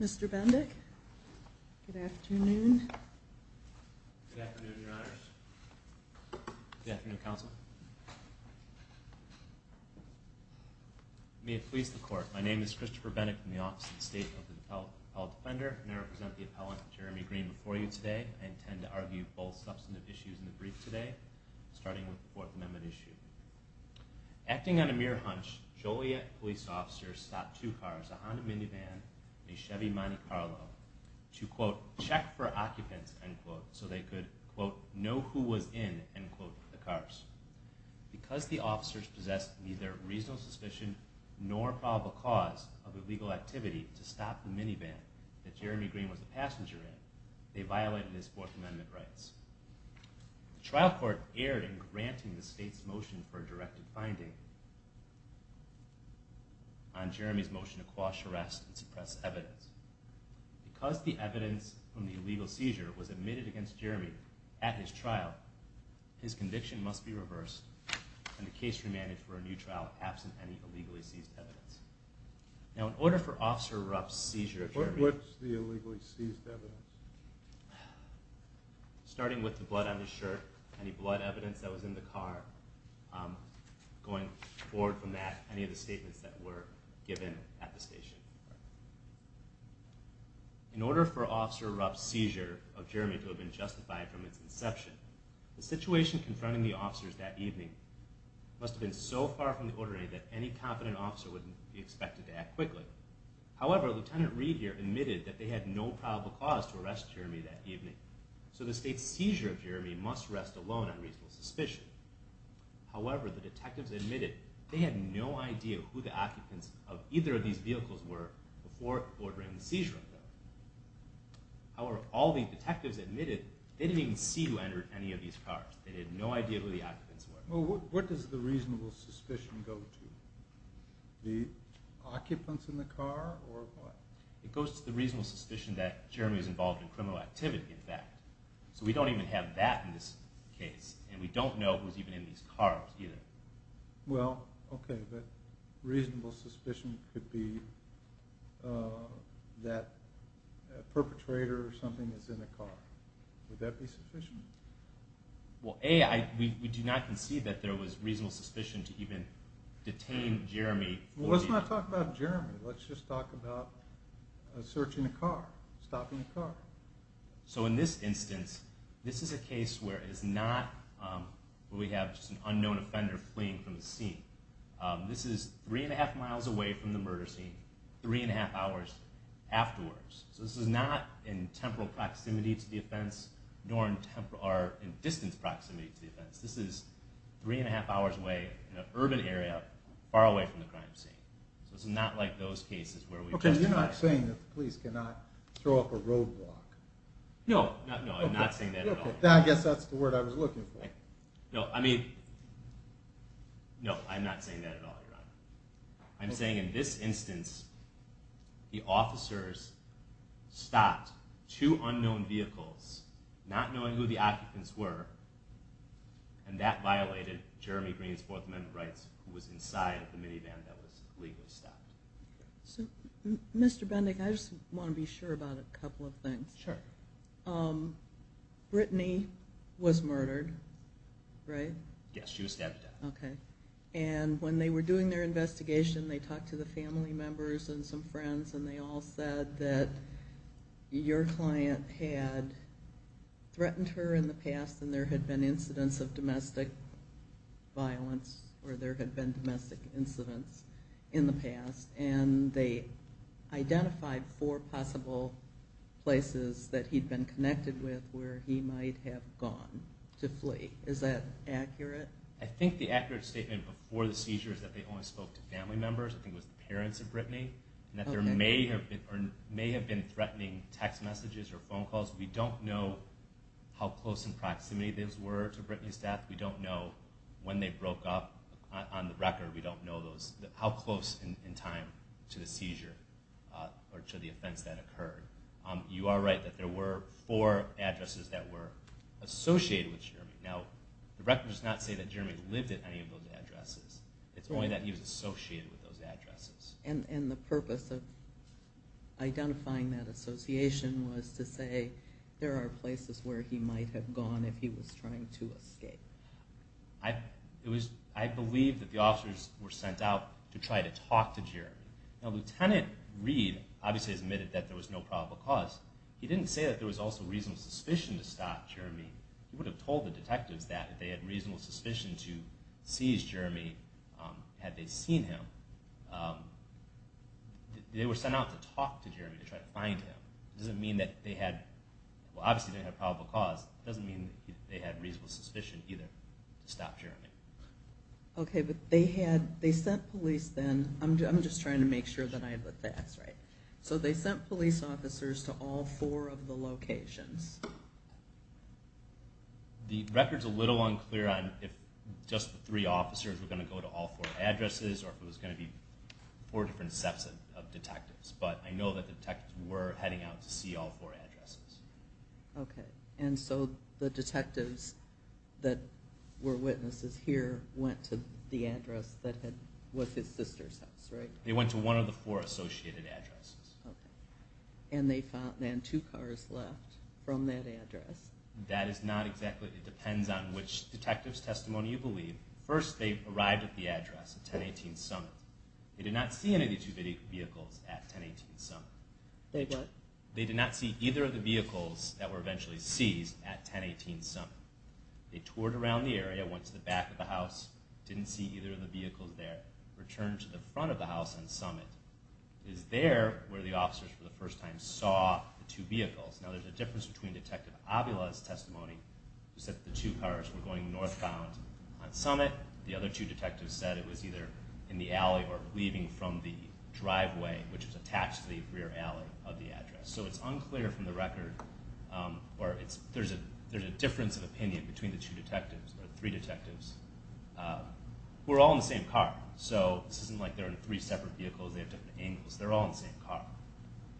Mr. Bendick. Good afternoon. Good afternoon, Your Honors. Good afternoon, Counsel. May it please the Court. My name is Christopher Bendick from the Office of the State of the Appellate Defender, and I represent the Appellant Jeremy Green before you today. I intend to argue both substantive issues in the brief today, starting with the Fourth Amendment issue. Acting on a mere hunch, Joliet police officers stopped two cars, a Honda minivan and a Chevy Monte Carlo, to, quote, check for occupants, end quote, so they could, quote, know who was in, end quote, the cars. Because the officers possessed neither reasonable suspicion nor probable cause of illegal activity to stop the minivan that Jeremy Green was a passenger in, they violated his Fourth Amendment rights. The trial court erred in granting the state's motion for a directed finding on Jeremy's motion to quash arrest and suppress evidence. Because the evidence from the illegal seizure was admitted against Jeremy at his trial, his conviction must be reversed and the case remanded for a new trial absent any illegally seized evidence. Now, in order for Officer Ruff's seizure of Jeremy… What was the illegally seized evidence? Starting with the blood on his shirt, any blood evidence that was in the car, going forward from that, any of the statements that were given at the station. In order for Officer Ruff's seizure of Jeremy to have been justified from its inception, the situation confronting the officers that evening must have been so far from the ordinary that any confident officer wouldn't be expected to act quickly. However, Lieutenant Reed here admitted that they had no probable cause to arrest Jeremy that evening, so the state's seizure of Jeremy must rest alone on reasonable suspicion. However, the detectives admitted they had no idea who the occupants of either of these vehicles were before ordering the seizure. However, all the detectives admitted they didn't even see who entered any of these cars. They had no idea who the occupants were. Well, what does the reasonable suspicion go to? The occupants in the car, or what? It goes to the reasonable suspicion that Jeremy was involved in criminal activity, in fact. So we don't even have that in this case, and we don't know who was even in these cars either. Well, okay, but reasonable suspicion could be that a perpetrator or something is in a car. Would that be sufficient? Well, A, we do not concede that there was reasonable suspicion to even detain Jeremy. Well, let's not talk about Jeremy. Let's just talk about searching a car, stopping a car. So in this instance, this is a case where we have just an unknown offender fleeing from the scene. This is three and a half miles away from the murder scene, three and a half hours afterwards. So this is not in temporal proximity to the offense, nor in distance proximity to the offense. This is three and a half hours away, in an urban area, far away from the crime scene. So this is not like those cases where we've testified. Okay, you're not saying that the police cannot throw up a roadblock. No, no, I'm not saying that at all. I guess that's the word I was looking for. No, I mean, no, I'm not saying that at all, Your Honor. I'm saying in this instance, the officers stopped two unknown vehicles, not knowing who the occupants were, and that violated Jeremy Green's Fourth Amendment rights, who was inside the minivan that was legally stopped. So, Mr. Bendick, I just want to be sure about a couple of things. Sure. Brittany was murdered, right? Yes, she was stabbed to death. Okay, and when they were doing their investigation, they talked to the family members and some friends, and they all said that your client had threatened her in the past, and there had been incidents of domestic violence, or there had been domestic incidents in the past, and they identified four possible places that he'd been connected with where he might have gone to flee. Is that accurate? I think the accurate statement before the seizure is that they only spoke to family members. I think it was the parents of Brittany, and that there may have been threatening text messages or phone calls. We don't know how close in proximity those were to Brittany's death. We don't know when they broke up on the record. We don't know how close in time to the seizure or to the offense that occurred. You are right that there were four addresses that were associated with Jeremy. Now, the record does not say that Jeremy lived at any of those addresses. It's only that he was associated with those addresses. And the purpose of identifying that association was to say there are places where he might have gone if he was trying to escape. I believe that the officers were sent out to try to talk to Jeremy. Now, Lieutenant Reed obviously admitted that there was no probable cause. He didn't say that there was also reasonable suspicion to stop Jeremy. He would have told the detectives that if they had reasonable suspicion to seize Jeremy had they seen him. They were sent out to talk to Jeremy to try to find him. It doesn't mean that they had, well obviously they didn't have a probable cause. It doesn't mean that they had reasonable suspicion either to stop Jeremy. Okay, but they had, they sent police then, I'm just trying to make sure that I have the facts right. So they sent police officers to all four of the locations. The record's a little unclear on if just the three officers were going to go to all four addresses or if it was going to be four different sets of detectives. But I know that the detectives were heading out to see all four addresses. Okay, and so the detectives that were witnesses here went to the address that was his sister's house, right? They went to one of the four associated addresses. And they found then two cars left from that address. That is not exactly, it depends on which detective's testimony you believe. First they arrived at the address, 1018 Summit. They did not see any of the two vehicles at 1018 Summit. They what? They did not see either of the vehicles that were eventually seized at 1018 Summit. They toured around the area, went to the back of the house, didn't see either of the vehicles there. They returned to the front of the house on Summit. It was there where the officers for the first time saw the two vehicles. Now there's a difference between Detective Avila's testimony, who said that the two cars were going northbound on Summit. The other two detectives said it was either in the alley or leaving from the driveway, which was attached to the rear alley of the address. So it's unclear from the record, or there's a difference of opinion between the two detectives, or three detectives, who are all in the same car. So this isn't like they're in three separate vehicles, they have different angles. They're all in the same car.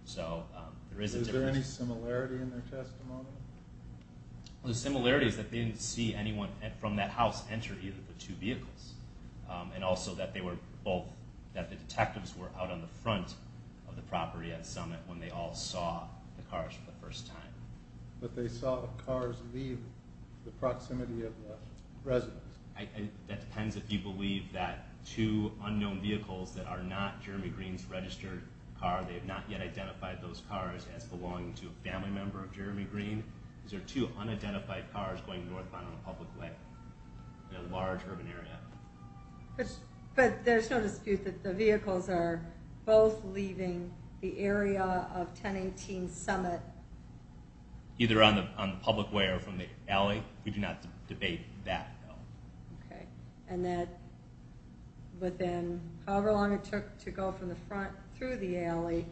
So there is a difference. Is there any similarity in their testimony? The similarity is that they didn't see anyone from that house enter either of the two vehicles. And also that the detectives were out on the front of the property at Summit when they all saw the cars for the first time. But they saw the cars leave the proximity of the residence. That depends if you believe that two unknown vehicles that are not Jeremy Green's registered car, they have not yet identified those cars as belonging to a family member of Jeremy Green. Is there two unidentified cars going northbound on a public way in a large urban area? But there's no dispute that the vehicles are both leaving the area of 1018 Summit. Either on the public way or from the alley? We do not debate that. Okay. And that within however long it took to go from the front through the alley,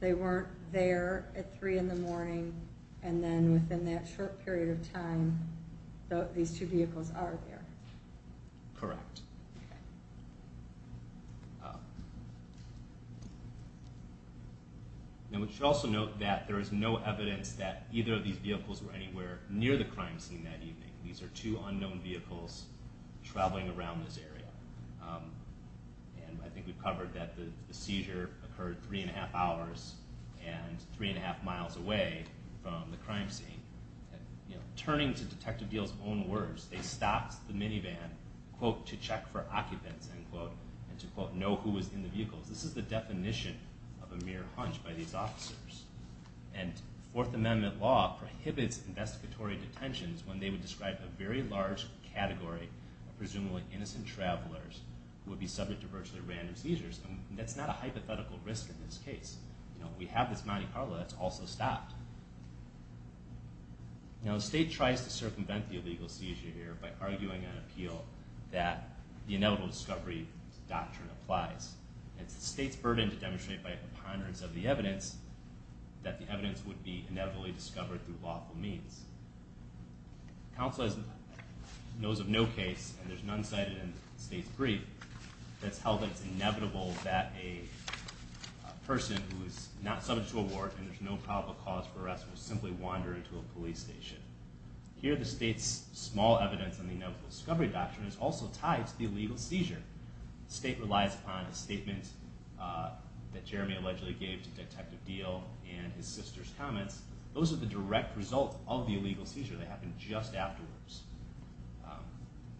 they weren't there at 3 in the morning. And then within that short period of time, these two vehicles are there. Correct. And we should also note that there is no evidence that either of these vehicles were anywhere near the crime scene that evening. And I think we've covered that the seizure occurred 3 1⁄2 hours and 3 1⁄2 miles away from the crime scene. Turning to Detective Deal's own words, they stopped the minivan, quote, to check for occupants, end quote, and to, quote, know who was in the vehicles. This is the definition of a mere hunch by these officers. And Fourth Amendment law prohibits investigatory detentions when they would describe a very large category of presumably innocent travelers who would be subject to virtually random seizures. And that's not a hypothetical risk in this case. You know, we have this Monte Carlo that's also stopped. Now, the state tries to circumvent the illegal seizure here by arguing an appeal that the inevitable discovery doctrine applies. It's the state's burden to demonstrate by a preponderance of the evidence that the evidence would be inevitably discovered through lawful means. The council knows of no case, and there's none cited in the state's brief, that's held that it's inevitable that a person who is not subject to a warrant and there's no probable cause for arrest would simply wander into a police station. Here, the state's small evidence in the inevitable discovery doctrine is also tied to the illegal seizure. The state relies upon a statement that Jeremy allegedly gave to Detective Deal and his sister's comments. Those are the direct result of the illegal seizure that happened just afterwards.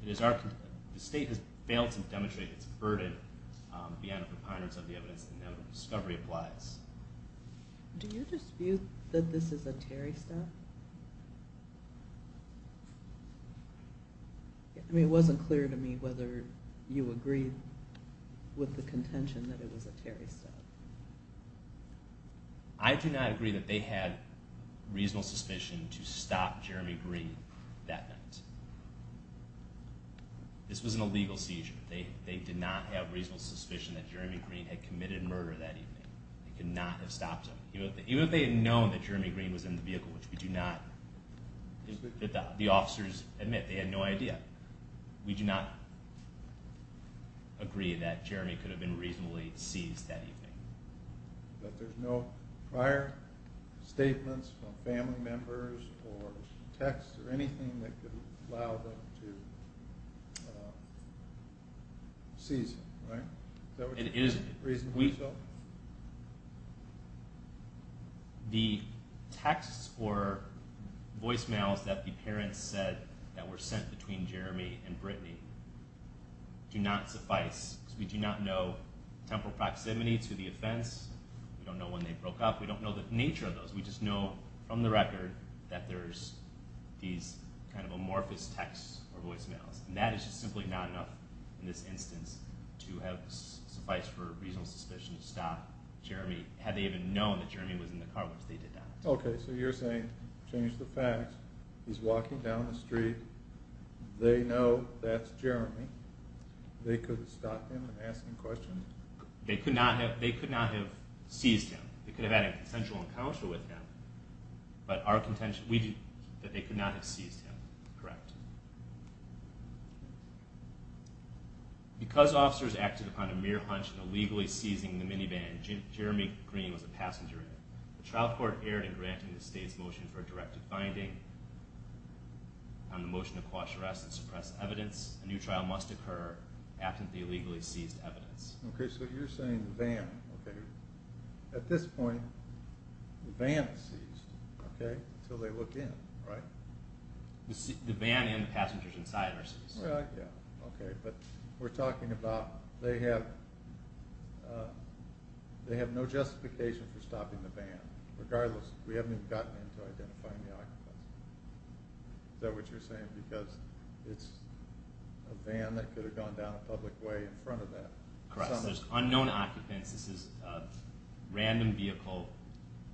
The state has failed to demonstrate its burden beyond a preponderance of the evidence that the inevitable discovery applies. Do you dispute that this is a Terry step? I mean, it wasn't clear to me whether you agree with the contention that it was a Terry step. I do not agree that they had reasonable suspicion to stop Jeremy Green that night. This was an illegal seizure. They did not have reasonable suspicion that Jeremy Green had committed murder that evening. They could not have stopped him. Even if they had known that Jeremy Green was in the vehicle, which we do not, the officers admit they had no idea. We do not agree that Jeremy could have been reasonably seized that evening. But there's no prior statements from family members or texts or anything that could allow them to seize him, right? Is that what you reason for yourself? The texts or voicemails that the parents said that were sent between Jeremy and Brittany do not suffice. We do not know temporal proximity to the offense. We don't know when they broke up. We don't know the nature of those. We just know from the record that there's these kind of amorphous texts or voicemails. And that is just simply not enough in this instance to have sufficed for reasonable suspicion to stop Jeremy. Had they even known that Jeremy was in the car once they did that. Okay, so you're saying, change the facts, he's walking down the street, they know that's Jeremy, they could have stopped him and asked him questions? They could not have seized him. They could have had a consensual encounter with him. But our contention is that they could not have seized him, correct? Correct. Because officers acted upon a mere hunch in illegally seizing the minivan Jeremy Green was a passenger in, the trial court erred in granting the state's motion for a directed finding on the motion to quash arrests and suppress evidence. A new trial must occur absent the illegally seized evidence. Okay, so you're saying the van, okay. At this point, the van is seized, okay, until they look in, right? The van and the passengers inside are seized. Yeah, okay, but we're talking about, they have no justification for stopping the van. Regardless, we haven't even gotten into identifying the occupants. Is that what you're saying? Because it's a van that could have gone down a public way in front of that. Correct, so there's unknown occupants, this is random vehicle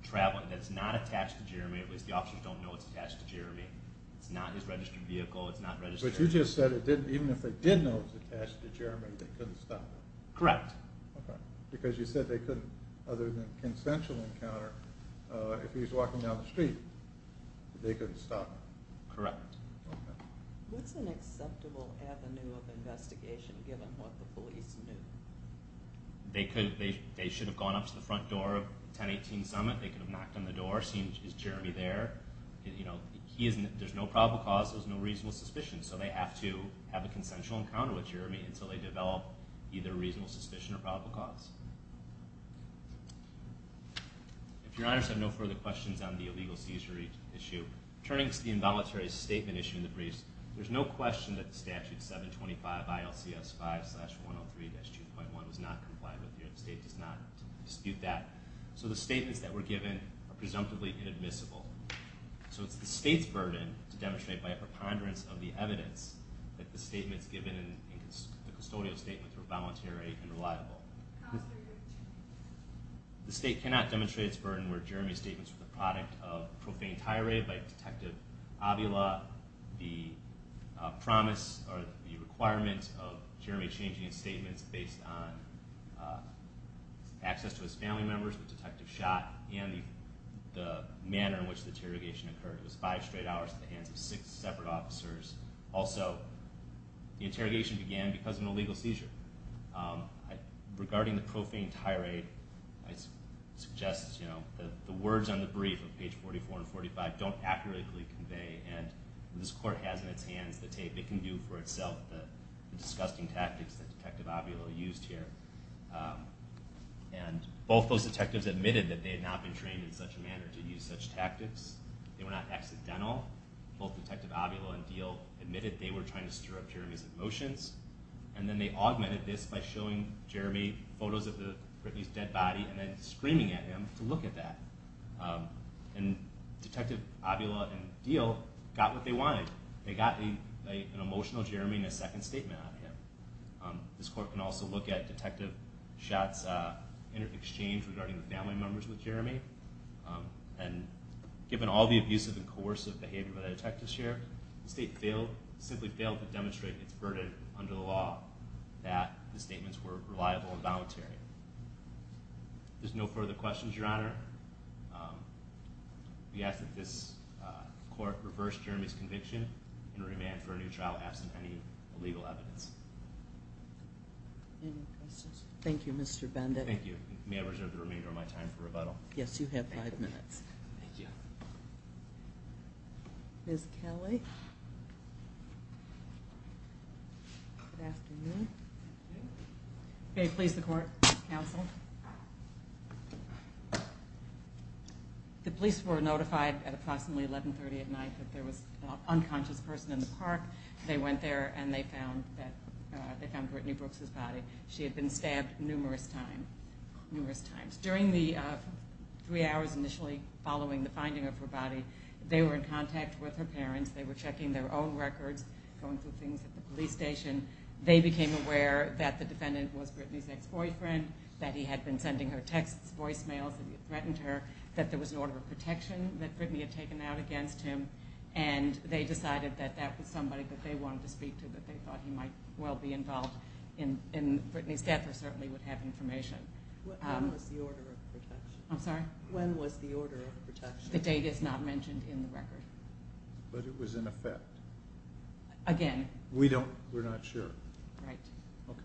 traveling that's not attached to Jeremy, at least the officers don't know it's attached to Jeremy. It's not his registered vehicle, it's not registered. But you just said even if they did know it was attached to Jeremy, they couldn't stop him. Correct. Okay, because you said they couldn't, other than consensual encounter, if he was walking down the street, they couldn't stop him. Correct. Okay. What's an acceptable avenue of investigation given what the police knew? They should have gone up to the front door of 1018 Summit, they could have knocked on the door, seen, is Jeremy there? There's no probable cause, there's no reasonable suspicion, so they have to have a consensual encounter with Jeremy until they develop either reasonable suspicion or probable cause. If your honors have no further questions on the illegal seizure issue, turning to the involuntary statement issue in the briefs, there's no question that the statute 725 ILCS 5-103-2.1 was not complied with here. The state does not dispute that. So the statements that were given are presumptively inadmissible. So it's the state's burden to demonstrate by a preponderance of the evidence that the statements given in the custodial statements were voluntary and reliable. How is there a good chance? The state cannot demonstrate its burden where Jeremy's statements were the product of profane tirade by Detective Avila, the promise or the requirement of Jeremy changing his statements based on access to his family members that Detective shot and the manner in which the interrogation occurred. It was five straight hours at the hands of six separate officers. Also, the interrogation began because of an illegal seizure. Regarding the profane tirade, I suggest that the words on the brief on page 44 and 45 don't accurately convey and this court has in its hands the tape. It can do for itself the disgusting tactics that Detective Avila used here. And both those detectives admitted that they had not been trained in such a manner to use such tactics. They were not accidental. Both Detective Avila and Diehl admitted they were trying to stir up Jeremy's emotions. And then they augmented this by showing Jeremy photos of Brittany's dead body and then screaming at him to look at that. And Detective Avila and Diehl got what they wanted. They got an emotional Jeremy and a second statement out of him. This court can also look at Detective Schott's interchange regarding the family members with Jeremy. And given all the abusive and coercive behavior by the detectives here, the state simply failed to demonstrate its burden under the law that the statements were reliable and voluntary. There's no further questions, Your Honor. We ask that this court reverse Jeremy's conviction and remand for a new trial absent any illegal evidence. Any questions? Thank you, Mr. Bendick. Thank you. May I reserve the remainder of my time for rebuttal? Yes, you have five minutes. Thank you. Ms. Kelly. Good afternoon. Thank you. Will you please the court, counsel? The police were notified at approximately 1130 at night that there was an unconscious person in the park. They went there and they found Brittany Brooks's body. She had been stabbed numerous times. During the three hours initially following the finding of her body, they were in contact with her parents. They were checking their own records, going through things at the police station. They became aware that the defendant was Brittany's ex-boyfriend, that he had been sending her texts, voicemails, that he had threatened her, that there was an order of protection that Brittany had taken out against him, and they decided that that was somebody that they wanted to speak to, that they thought he might well be involved in Brittany's death or certainly would have information. When was the order of protection? I'm sorry? When was the order of protection? The date is not mentioned in the record. But it was in effect? Again. We're not sure. Right. Okay.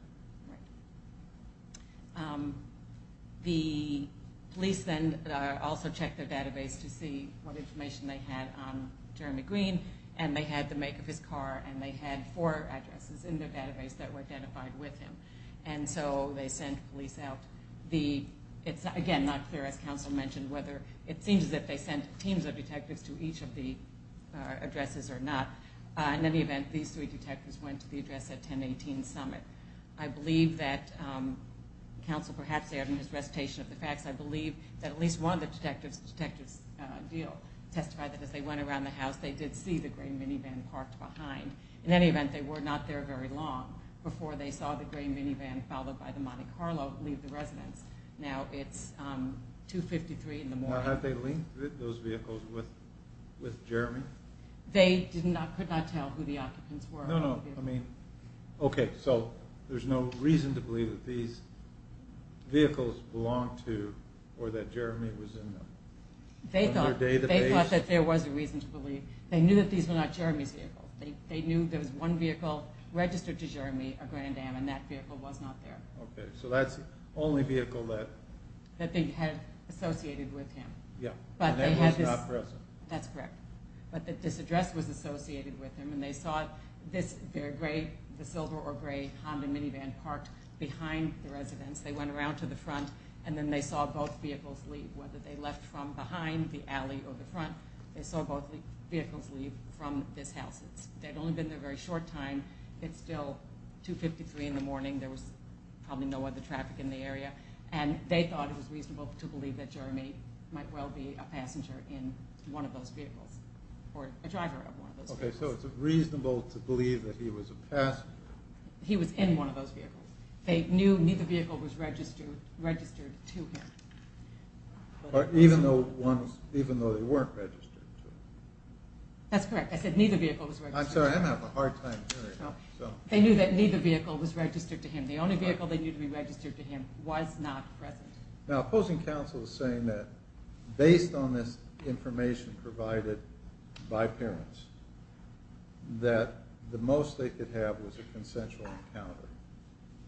The police then also checked their database to see what information they had on Jeremy Green, and they had the make of his car, and they had four addresses in their database that were identified with him. And so they sent police out. It's, again, not clear, as counsel mentioned, whether it seems as if they sent teams of detectives to each of the addresses or not. In any event, these three detectives went to the address at 1018 Summit. I believe that counsel perhaps added in his recitation of the facts, I believe that at least one of the detectives' deal testified that as they went around the house they did see the gray minivan parked behind. In any event, they were not there very long before they saw the gray minivan followed by the Monte Carlo leave the residence. Now it's 2.53 in the morning. Had they linked those vehicles with Jeremy? They could not tell who the occupants were. No, no. Okay, so there's no reason to believe that these vehicles belonged to or that Jeremy was in them. They thought that there was a reason to believe. They knew that these were not Jeremy's vehicles. They knew there was one vehicle registered to Jeremy, a Grand Am, and that vehicle was not there. Okay, so that's the only vehicle that... That they had associated with him. Yeah, and that was not present. That's correct. But this address was associated with him, and they saw the silver or gray Honda minivan parked behind the residence. They went around to the front, and then they saw both vehicles leave. Whether they left from behind the alley or the front, they saw both vehicles leave from this house. They'd only been there a very short time. It's still 2.53 in the morning. There was probably no other traffic in the area. And they thought it was reasonable to believe that Jeremy might well be a passenger in one of those vehicles or a driver of one of those vehicles. Okay, so it's reasonable to believe that he was a passenger. He was in one of those vehicles. They knew neither vehicle was registered to him. Even though they weren't registered to him. That's correct. I said neither vehicle was registered to him. I'm sorry. I'm having a hard time hearing you. They knew that neither vehicle was registered to him. The only vehicle that needed to be registered to him was not present. Now, opposing counsel is saying that based on this information provided by parents, that the most they could have was a consensual encounter.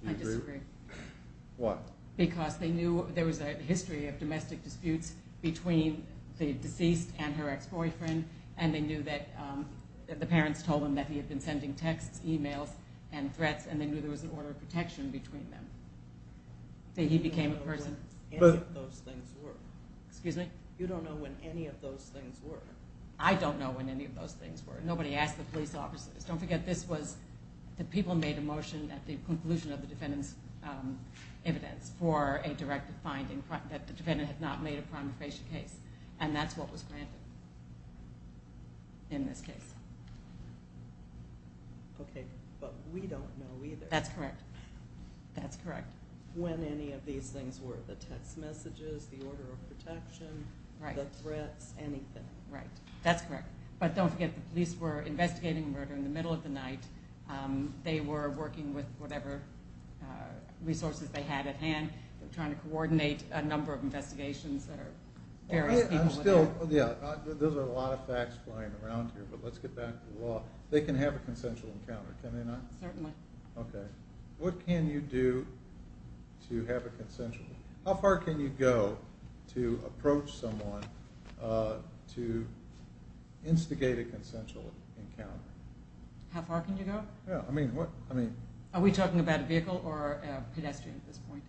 I disagree. Why? Because they knew there was a history of domestic disputes between the deceased and her ex-boyfriend, and they knew that the parents told them that he had been sending texts, emails, and threats, and they knew there was an order of protection between them. That he became a person. You don't know when any of those things were. Excuse me? You don't know when any of those things were. I don't know when any of those things were. Nobody asked the police officers. Don't forget this was the people made a motion at the conclusion of the defendant's evidence for a directive finding that the defendant had not made a crime of patient case, and that's what was granted in this case. Okay, but we don't know either. That's correct. That's correct. When any of these things were. The text messages, the order of protection, the threats, anything. Right. That's correct. But don't forget the police were investigating the murder in the middle of the night. They were working with whatever resources they had at hand, trying to coordinate a number of investigations that are various people. I'm still, yeah, those are a lot of facts flying around here, but let's get back to the law. They can have a consensual encounter, can they not? Certainly. Okay. What can you do to have a consensual? How far can you go to approach someone to instigate a consensual encounter? How far can you go? Yeah, I mean. Are we talking about a vehicle or a pedestrian at this point?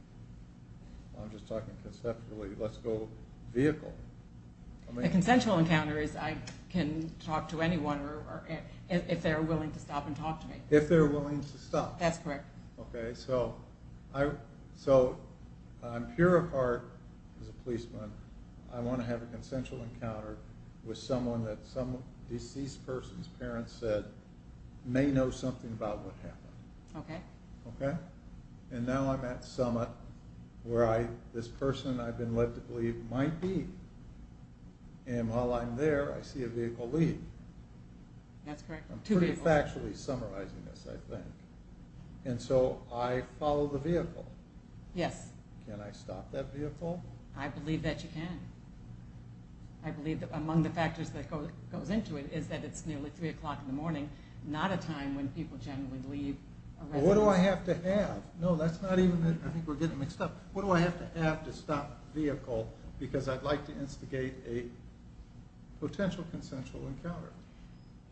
I'm just talking conceptually. Let's go vehicle. A consensual encounter is I can talk to anyone if they're willing to stop and talk to me. If they're willing to stop. That's correct. Okay. So I'm pure of heart as a policeman. I want to have a consensual encounter with someone that some deceased person's parents said may know something about what happened. Okay. Okay? And now I'm at summit where this person I've been led to believe might be, and while I'm there I see a vehicle leave. That's correct. I'm pretty factually summarizing this, I think. And so I follow the vehicle. Yes. Can I stop that vehicle? I believe that you can. I believe that among the factors that goes into it is that it's nearly 3 o'clock in the morning, not a time when people generally leave a residence. What do I have to have? No, that's not even. I think we're getting mixed up. What do I have to have to stop a vehicle because I'd like to instigate a potential consensual encounter?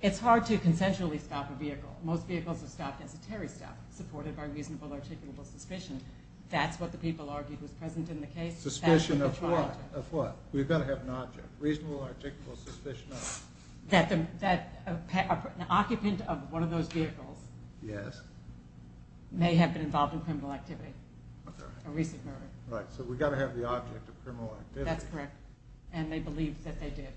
It's hard to consensually stop a vehicle. Most vehicles are stopped as a terry stop, supported by reasonable articulable suspicion. That's what the people argued was present in the case. Suspicion of what? Of what? We've got to have an object. Reasonable articulable suspicion of? That an occupant of one of those vehicles may have been involved in criminal activity. Okay. A recent murder. Right. So we've got to have the object of criminal activity. That's correct. And they believe that they did.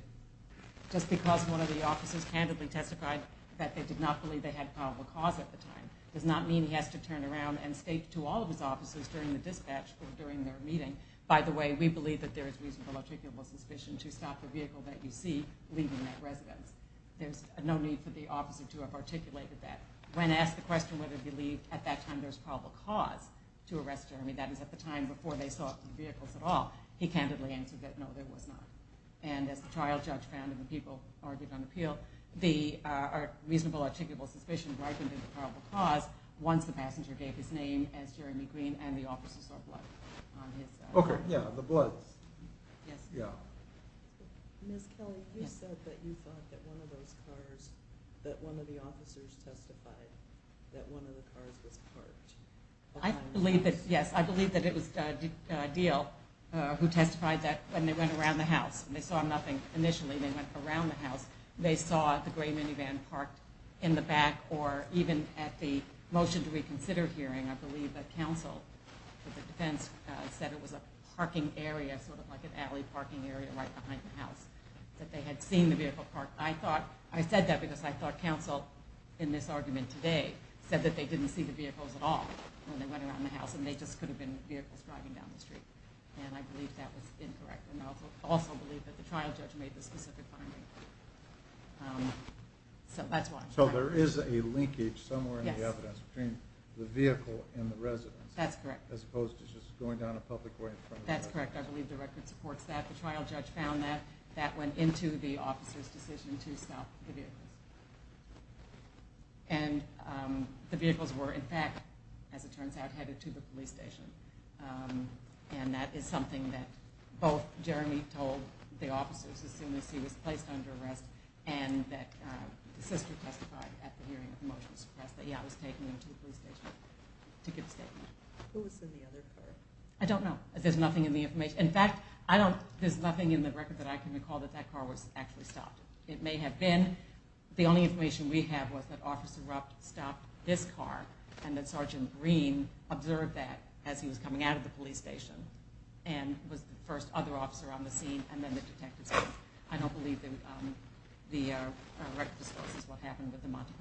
Just because one of the officers candidly testified that they did not believe they had probable cause at the time does not mean he has to turn around and state to all of his officers during the dispatch or during their meeting, by the way, we believe that there is reasonable articulable suspicion to stop the vehicle that you see leaving that residence. There's no need for the officer to have articulated that. When asked the question whether he believed at that time there was probable cause to arrest Jeremy, that is at the time before they saw the vehicles at all, he candidly answered that no, there was not. And as the trial judge found and the people argued on appeal, the reasonable articulable suspicion ripened into probable cause once the passenger gave his name as Jeremy Green and the officers saw blood on his. Okay. Yeah, the blood. Yes. Yeah. Ms. Kelly, you said that you thought that one of those cars, that one of the officers testified that one of the cars was parked. I believe that, yes, I believe that it was Diehl who testified that when they went around the house and they saw nothing initially, they went around the house. They saw the gray minivan parked in the back or even at the motion to reconsider hearing, I believe that counsel for the defense said it was a parking area, sort of like an alley parking area right behind the house, that they had seen the vehicle parked. I said that because I thought counsel in this argument today said that they didn't see the vehicles at all when they went around the house and they just could have been vehicles driving down the street. And I believe that was incorrect. And I also believe that the trial judge made the specific finding. So that's why. So there is a linkage somewhere in the evidence between the vehicle and the residence. That's correct. As opposed to just going down a public way in front of the vehicle. That's correct. I believe the record supports that. The trial judge found that. That went into the officer's decision to stop the vehicles. And the vehicles were, in fact, as it turns out, headed to the police station. And that is something that both Jeremy told the officers as soon as he was placed under arrest and that the sister testified at the hearing of the motion to suppress that he was taking them to the police station to give a statement. Who was in the other car? I don't know. There's nothing in the information. In fact, there's nothing in the record that I can recall that that car was actually stopped. It may have been. The only information we have was that Officer Rupp stopped this car and that Sergeant Green observed that as he was coming out of the police station and was the first other officer on the scene and then the detective. I don't believe the record supports what happened with the Monte Carlo.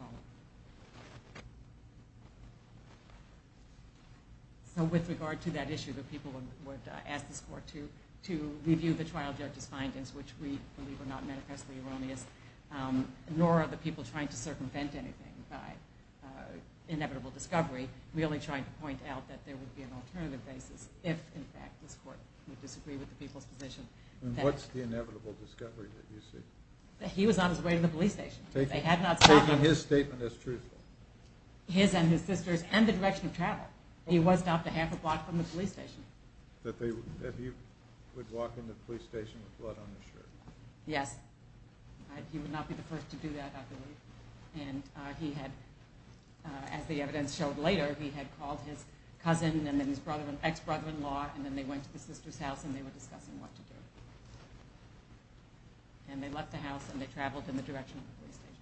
So with regard to that issue, the people would ask this court to review the trial judge's findings, which we believe are not manifestly erroneous, nor are the people trying to circumvent anything by inevitable discovery, merely trying to point out that there would be an alternative basis if, in fact, this court would disagree with the people's position. And what's the inevitable discovery that you see? That he was on his way to the police station. Taking his statement as truthful. His and his sister's and the direction of travel. He was stopped a half a block from the police station. That he would walk into the police station with blood on his shirt. Yes. He would not be the first to do that, I believe. And he had, as the evidence showed later, he had called his cousin and then his ex-brother-in-law, and then they went to the sister's house and they were discussing what to do. And they left the house and they traveled in the direction of the police station.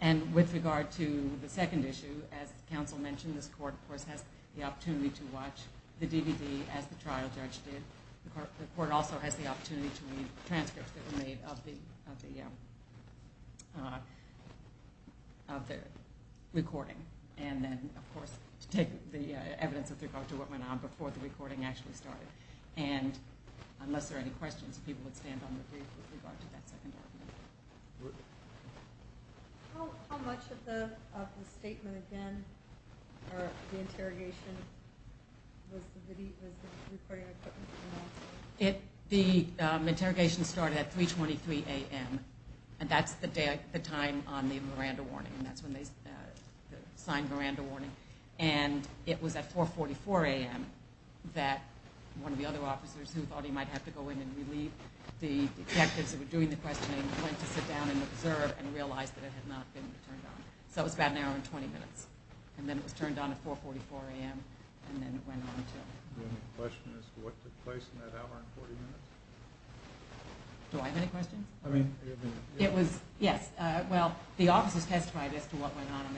And with regard to the second issue, as counsel mentioned, this court, of course, has the opportunity to watch the DVD as the trial judge did. The court also has the opportunity to read transcripts that were made of the recording. And then, of course, to take the evidence with regard to what went on before the recording actually started. And unless there are any questions, people would stand on the brief with regard to that second argument. How much of the statement again, or the interrogation, was the recording equipment announced? The interrogation started at 3.23 a.m. And that's the time on the Miranda warning. That's when they signed Miranda warning. And it was at 4.44 a.m. that one of the other officers, who thought he might have to go in and relieve the detectives that were doing the questioning, went to sit down and observe and realized that it had not been turned on. So it was about an hour and 20 minutes. And then it was turned on at 4.44 a.m. and then it went on until... Do you have any questions as to what took place in that hour and 40 minutes? Do I have any questions? I mean... It was, yes, well, the officers testified as to what went on at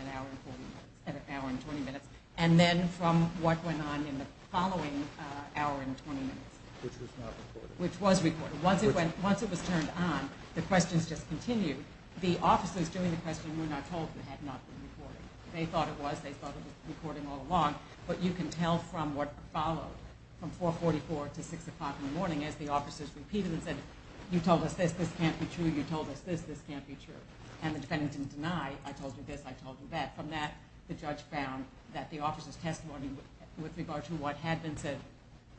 an hour and 20 minutes, and then from what went on in the following hour and 20 minutes. Which was not recorded. Which was recorded. Once it was turned on, the questions just continued. The officers doing the questioning were not told it had not been recorded. They thought it was. They thought it was recording all along. But you can tell from what followed from 4.44 to 6 o'clock in the morning as the officers repeated and said, you told us this, this can't be true. You told us this, this can't be true. And the defendant didn't deny, I told you this, I told you that. From that, the judge found that the officers' testimony with regard to what had been said,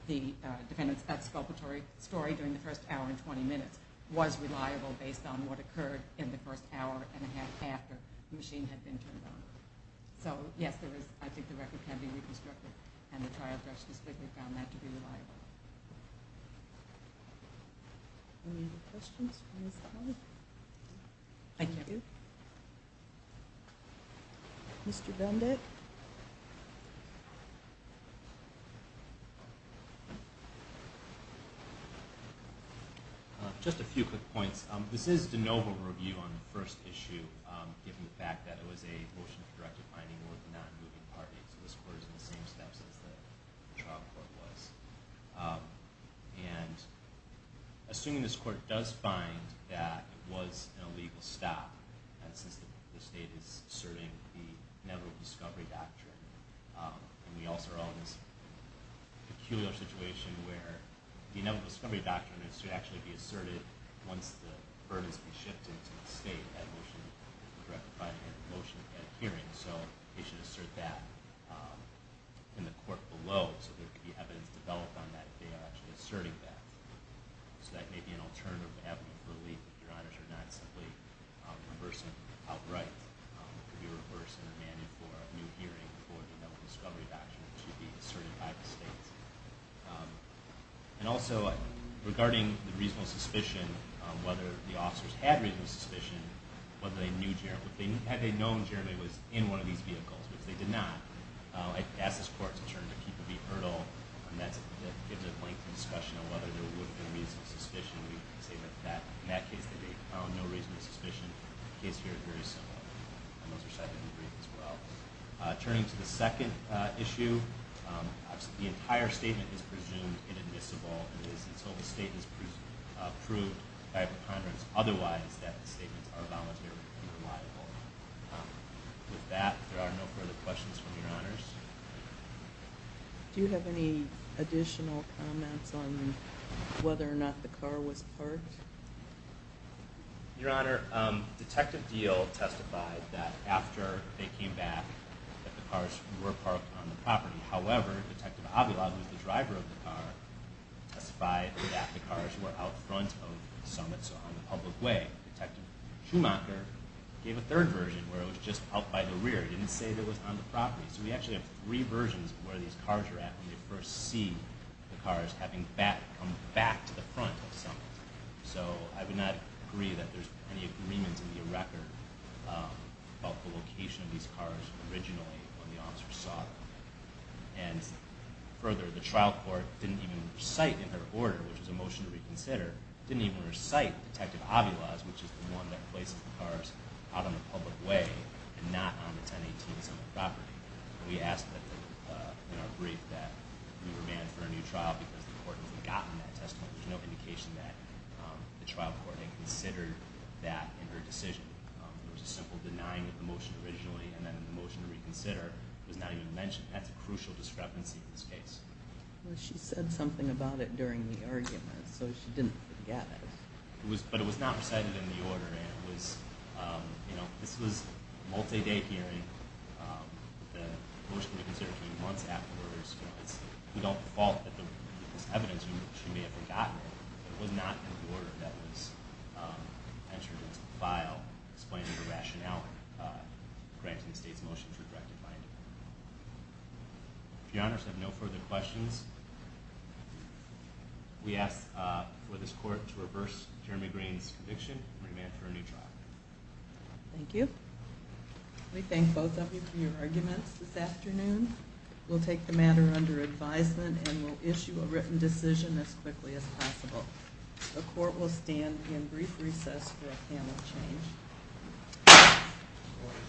the defendant's exculpatory story during the first hour and 20 minutes, was reliable based on what occurred in the first hour and a half after the machine had been turned on. So, yes, I think the record can be reconstructed. And the trial judge found that to be reliable. Any other questions from this panel? I can't hear you. Mr. Dundek? Just a few quick points. This is de novo review on the first issue, given the fact that it was a motion for directive finding and a motion for the non-moving party. So this court is in the same steps as the trial court was. And assuming this court does find that it was an illegal stop, and since the state is serving the inevitable discovery doctrine, and we also are all in this peculiar situation where the inevitable discovery doctrine should actually be asserted once the burden has been shifted to the state that motion for directive finding and motion for hearing. So they should assert that in the court below so there could be evidence developed on that if they are actually asserting that. So that may be an alternative avenue for relief if your honors are not simply reversing it outright. If you're reversing the mandate for a new hearing for the inevitable discovery doctrine, it should be asserted by the state. And also, regarding the reasonable suspicion, whether the officers had reasonable suspicion, whether they knew Jeremy. Had they known Jeremy was in one of these vehicles, which they did not, I'd ask this court to turn to Keeper v. Hurdle. And that gives a lengthy discussion on whether there would be reasonable suspicion. We can say that in that case they found no reasonable suspicion. The case here is very similar. And those are cited in the brief as well. Turning to the second issue, the entire statement is presumed inadmissible. And so the statement is proved by the Congress otherwise that the statements are voluntary and reliable. With that, there are no further questions from your honors. Do you have any additional comments on whether or not the car was parked? Your honor, Detective Diehl testified that after they came back that the cars were parked on the property. However, Detective Avila, who is the driver of the car, testified that the cars were out front of Summit, so on the public way. Detective Schumacher gave a third version where it was just out by the rear. He didn't say it was on the property. So we actually have three versions of where these cars are at when we first see the cars having come back to the front of Summit. So I would not agree that there's any agreement in the record about the location of these cars originally when the officers saw them. And further, the trial court didn't even recite in her order, which was a motion to reconsider, didn't even recite Detective Avila's, which is the one that places the cars out on the public way and not on the 1018 Summit property. We asked in our brief that we remand for a new trial because the court had forgotten that testimony. There's no indication that the trial court had considered that in her decision. There was a simple denying of the motion originally and then the motion to reconsider was not even mentioned. That's a crucial discrepancy in this case. Well, she said something about it during the argument, so she didn't forget it. But it was not recited in the order, and it was, you know, this was a multi-day hearing. The motion to reconsider came months afterwards. It's not the fault of the evidence. She may have forgotten it. It was not in the order that was entered into the file explaining the rationale granting the state's motion to redirect the finding. If your honors have no further questions, we ask for this court to reverse Jeremy Green's conviction and remand for a new trial. Thank you. We thank both of you for your arguments this afternoon. We'll take the matter under advisement and we'll issue a written decision as quickly as possible. The court will stand in brief recess for a panel change.